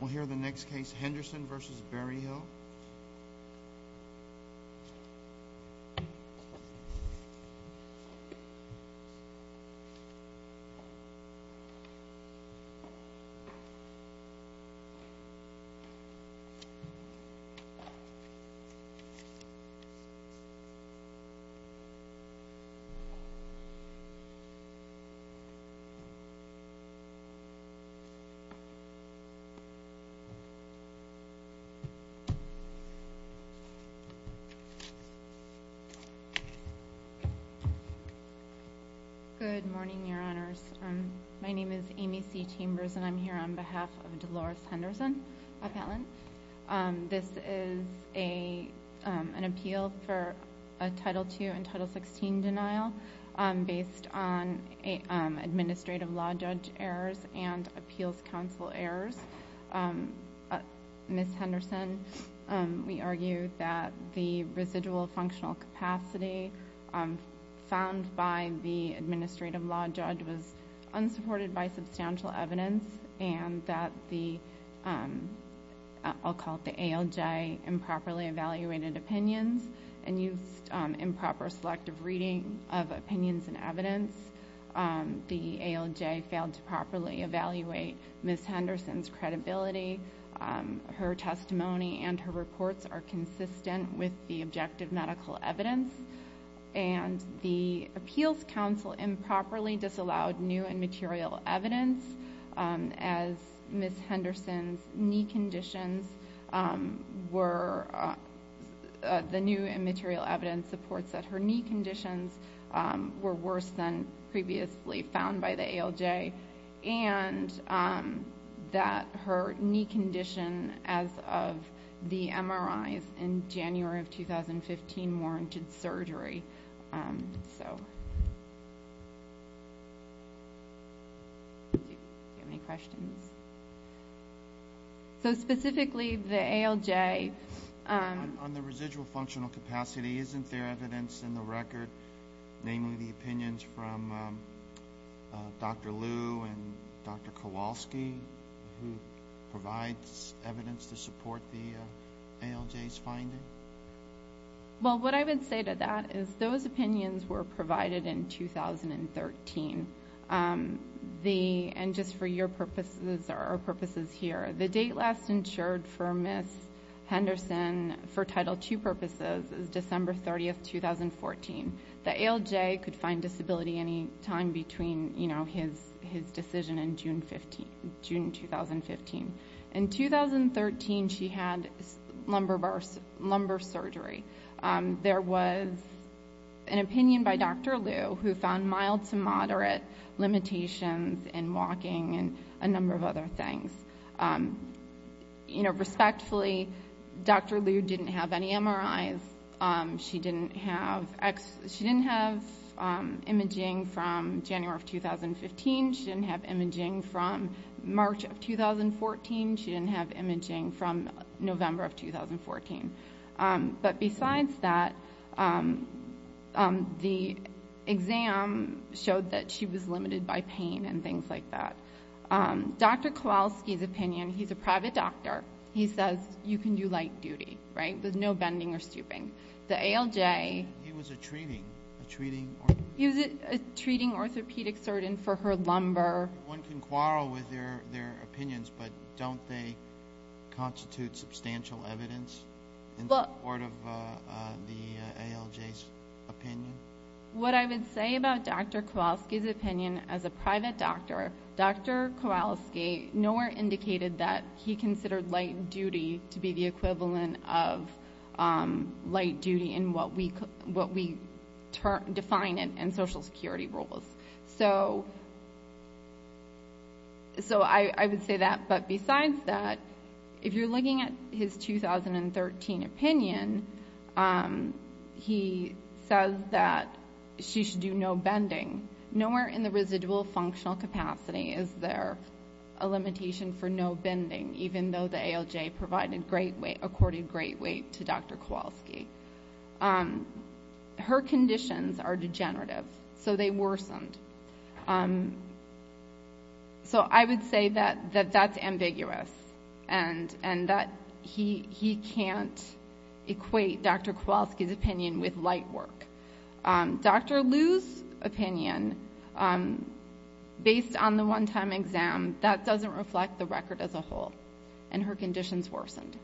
We'll hear the next case, Henderson v. Berryhill. Amy C. Chambers Good morning, Your Honors. My name is Amy C. Chambers, and I'm here on behalf of Dolores Henderson, a felon. This is an appeal for a Title II and Title XVI denial based on administrative law judge errors and appeals counsel errors. Ms. Henderson, we argue that the residual functional capacity found by the administrative law judge was unsupported by substantial evidence and that the—I'll call it the ALJ—improperly evaluated opinions and used improper selective reading of opinions and evidence. The ALJ failed to properly evaluate Ms. Henderson's credibility. Her testimony and her reports are consistent with the objective medical evidence, and the appeals counsel improperly disallowed new and material evidence as Ms. Henderson's knee conditions were—the new and material evidence supports that her knee conditions were worse than previously found by the ALJ and that her knee condition as of the MRIs in January of 2015 warranted surgery. So, do you have any questions? So, specifically, the ALJ— On the residual functional capacity, isn't there evidence in the record, namely the opinions from Dr. Liu and Dr. Kowalski, who provides evidence to support the ALJ's finding? Well, what I would say to that is those opinions were provided in 2013, and just for your purposes or our purposes here. The date last insured for Ms. Henderson for Title II purposes is December 30, 2014. The ALJ could find disability any time between, you know, his decision in June 2015. In 2013, she had lumbar surgery. There was an opinion by Dr. Liu who found mild to moderate limitations in walking and a number of other things. You know, respectfully, Dr. Liu didn't have any MRIs. She didn't have imaging from January of 2015. She didn't have imaging from March of 2014. She didn't have imaging from November of 2014. But besides that, the exam showed that she was limited by pain and things like that. Dr. Kowalski's opinion, he's a private doctor. He says you can do light duty, right? There's no bending or stooping. The ALJ... He was a treating orthopedic surgeon for her lumbar. One can quarrel with their opinions, but don't they constitute substantial evidence in support of the ALJ's opinion? What I would say about Dr. Kowalski's opinion as a private doctor, Dr. Kowalski nowhere indicated that he considered light duty to be the equivalent of light duty in what we define in social security rules. So I would say that. But besides that, if you're looking at his 2013 opinion, he says that she should do no capacity. Is there a limitation for no bending, even though the ALJ provided great weight, accorded great weight to Dr. Kowalski? Her conditions are degenerative, so they worsened. So I would say that that's ambiguous and that he can't equate Dr. Kowalski's opinion with light work. Dr. Liu's opinion, based on the one-time exam, that doesn't reflect the record as a whole, and her conditions worsened.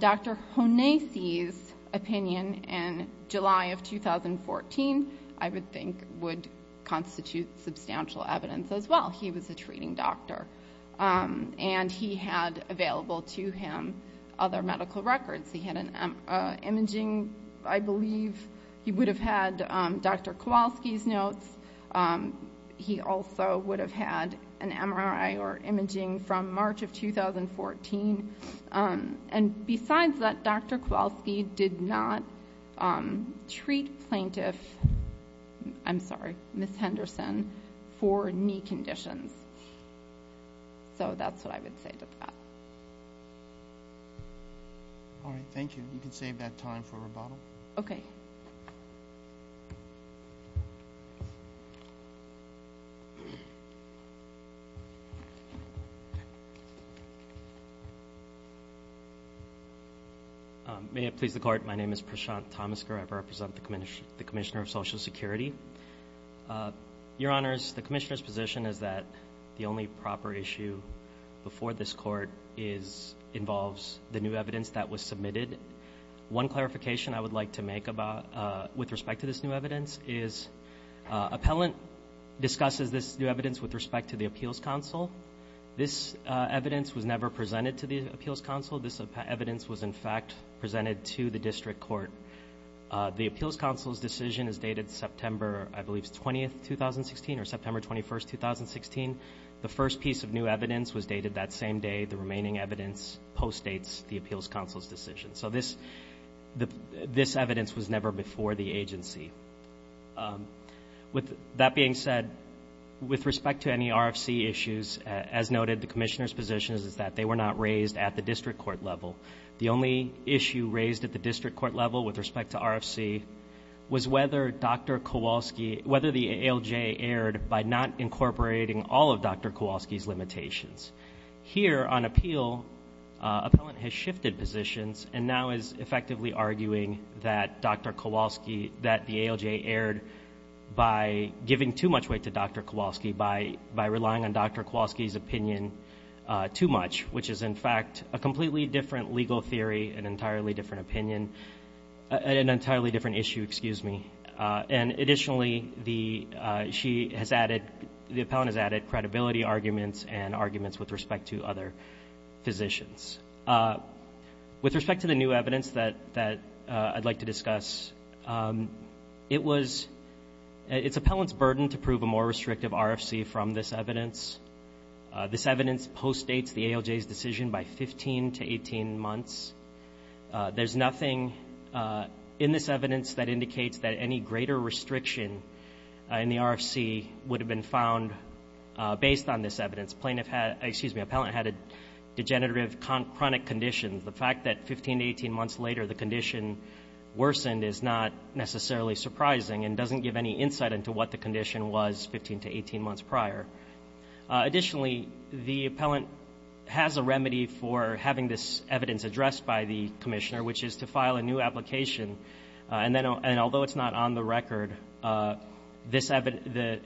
Dr. Honeysi's opinion in July of 2014, I would think, would constitute substantial evidence as well. He was a treating doctor, and he had available to him other medical records. He had an imaging, I believe. He would have had Dr. Kowalski's notes. He also would have had an MRI or imaging from March of 2014. And besides that, Dr. Kowalski did not treat plaintiff, I'm sorry, Ms. Henderson, for knee conditions. So that's what I would say to that. All right. Thank you. You can save that time for rebuttal. Okay. May it please the Court. My name is Prashant Thomasker. I represent the Commissioner of Social Security. Your Honors, the Commissioner's position is that the only proper issue before this involves the new evidence that was submitted. One clarification I would like to make with respect to this new evidence is appellant discusses this new evidence with respect to the Appeals Council. This evidence was never presented to the Appeals Council. This evidence was, in fact, presented to the District Court. The Appeals Council's decision is dated September, I believe, 20th, 2016 or September 21st, 2016. The first piece of new evidence was dated that same day. The remaining evidence postdates the Appeals Council's decision. So this evidence was never before the agency. With that being said, with respect to any RFC issues, as noted, the Commissioner's position is that they were not raised at the District Court level. The only issue raised at the District Court level with respect to RFC was whether Dr. Kowalski's limitations. Here on appeal, appellant has shifted positions and now is effectively arguing that Dr. Kowalski, that the ALJ erred by giving too much weight to Dr. Kowalski, by relying on Dr. Kowalski's opinion too much, which is, in fact, a completely different legal theory, an entirely different opinion, an entirely different issue, excuse me. And additionally, the, she has added, the appellant has added credibility arguments and arguments with respect to other physicians. With respect to the new evidence that I'd like to discuss, it was, it's appellant's burden to prove a more restrictive RFC from this evidence. This evidence postdates the ALJ's decision by 15 to 18 months. There's nothing in this evidence that indicates that any greater restriction in the RFC would have been found based on this evidence. Plaintiff had, excuse me, appellant had a degenerative chronic condition. The fact that 15 to 18 months later the condition worsened is not necessarily surprising and doesn't give any insight into what the condition was 15 to 18 months prior. Additionally, the appellant has a remedy for having this evidence addressed by the commissioner, which is to file a new application. And then, and although it's not on the record, this, the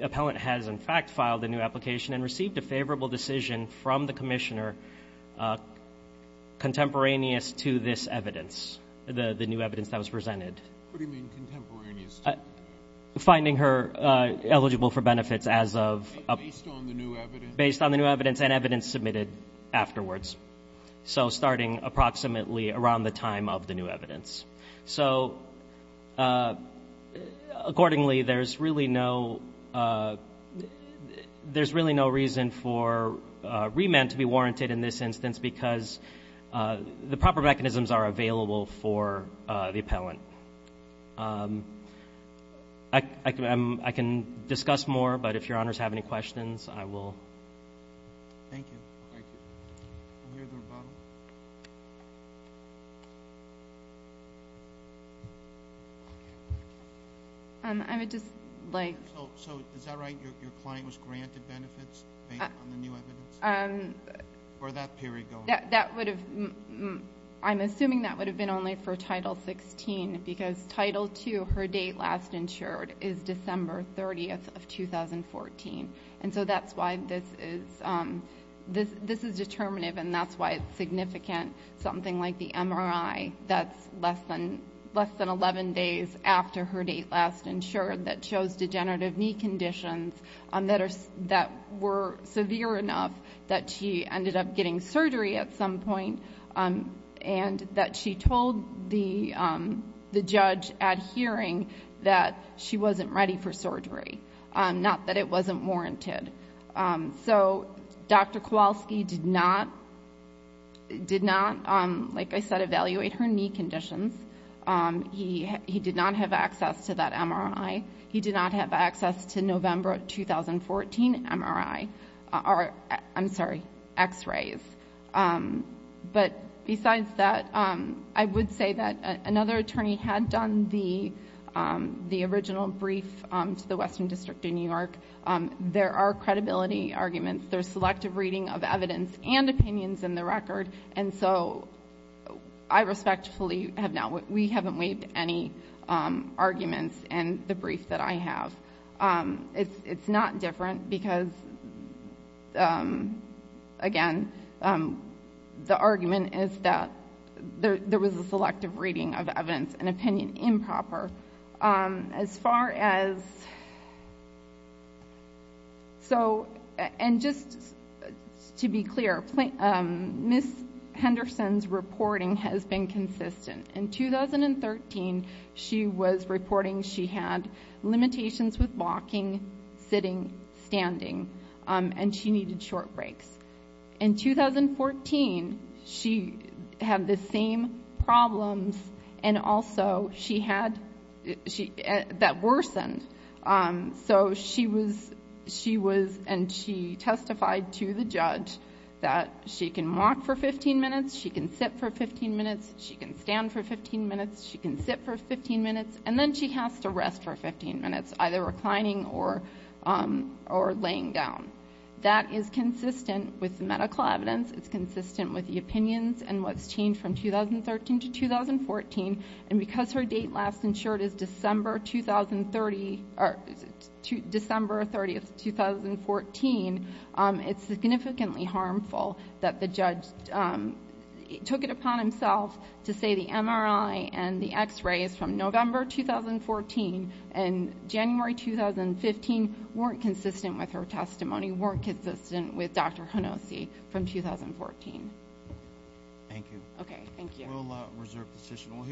appellant has, in fact, filed a new application and received a favorable decision from the commissioner contemporaneous to this evidence, the new evidence that was presented. What do you mean contemporaneous? Finding her eligible for benefits as of. Based on the new evidence. Based on the new evidence and evidence submitted afterwards. So starting approximately around the time of the new evidence. So accordingly, there's really no, there's really no reason for remand to be warranted in this instance because the proper mechanisms are available for the appellant. I can, I can discuss more, but if your honors have any questions, I will. Thank you. Um, I would just like. So is that right? Your client was granted benefits based on the new evidence? Um. Or that period going? That would have, I'm assuming that would have been only for title 16 because title two, her date last insured is December 30th of 2014. And so that's why this is, um, this, this is determinative and that's why it's significant. Something like the MRI that's less than less than 11 days after her date last insured that shows degenerative knee conditions that are, that were severe enough that she ended up getting surgery at some point. Um, and that she told the, um, the judge at hearing that she wasn't ready for surgery. Um, not that it wasn't warranted. Um, so Dr. Kowalski did not, did not, um, like I said, evaluate her knee conditions. Um, he, he did not have access to that MRI. He did not have access to November 2014 MRI, or I'm sorry, x-rays. Um, but besides that, um, I would say that another attorney had done the, um, the original brief, um, to the Western District in New York. Um, there are credibility arguments. There's selective reading of evidence and opinions in the record. And so I respectfully have not, we haven't waived any, um, arguments. And the brief that I have, um, it's, it's not different because, um, again, um, the argument is that there, there was a selective reading of evidence and opinion improper. Um, as far as, so, and just to be clear, um, Ms. Henderson's reporting has been consistent. In 2013, she was reporting she had limitations with walking, sitting, standing, um, and she needed short breaks. In 2014, she had the same problems and also she had, she, that worsened. Um, so she was, she was, and she testified to the judge that she can walk for 15 minutes, she can sit for 15 minutes, she can stand for 15 minutes, she can sit for 15 minutes, and then she has to rest for 15 minutes, either reclining or, um, or laying down. That is consistent with the medical evidence. It's consistent with the opinions and what's changed from 2013 to 2014. And because her date last insured is December 2030, or is it December 30th, 2014, um, it's significantly harmful that the judge, um, took it upon himself to say the MRI and the x-rays from November 2014 and January 2015 weren't consistent with her testimony, weren't consistent with Dr. Honose from 2014. Thank you. Okay, thank you. We'll, uh, reserve the session.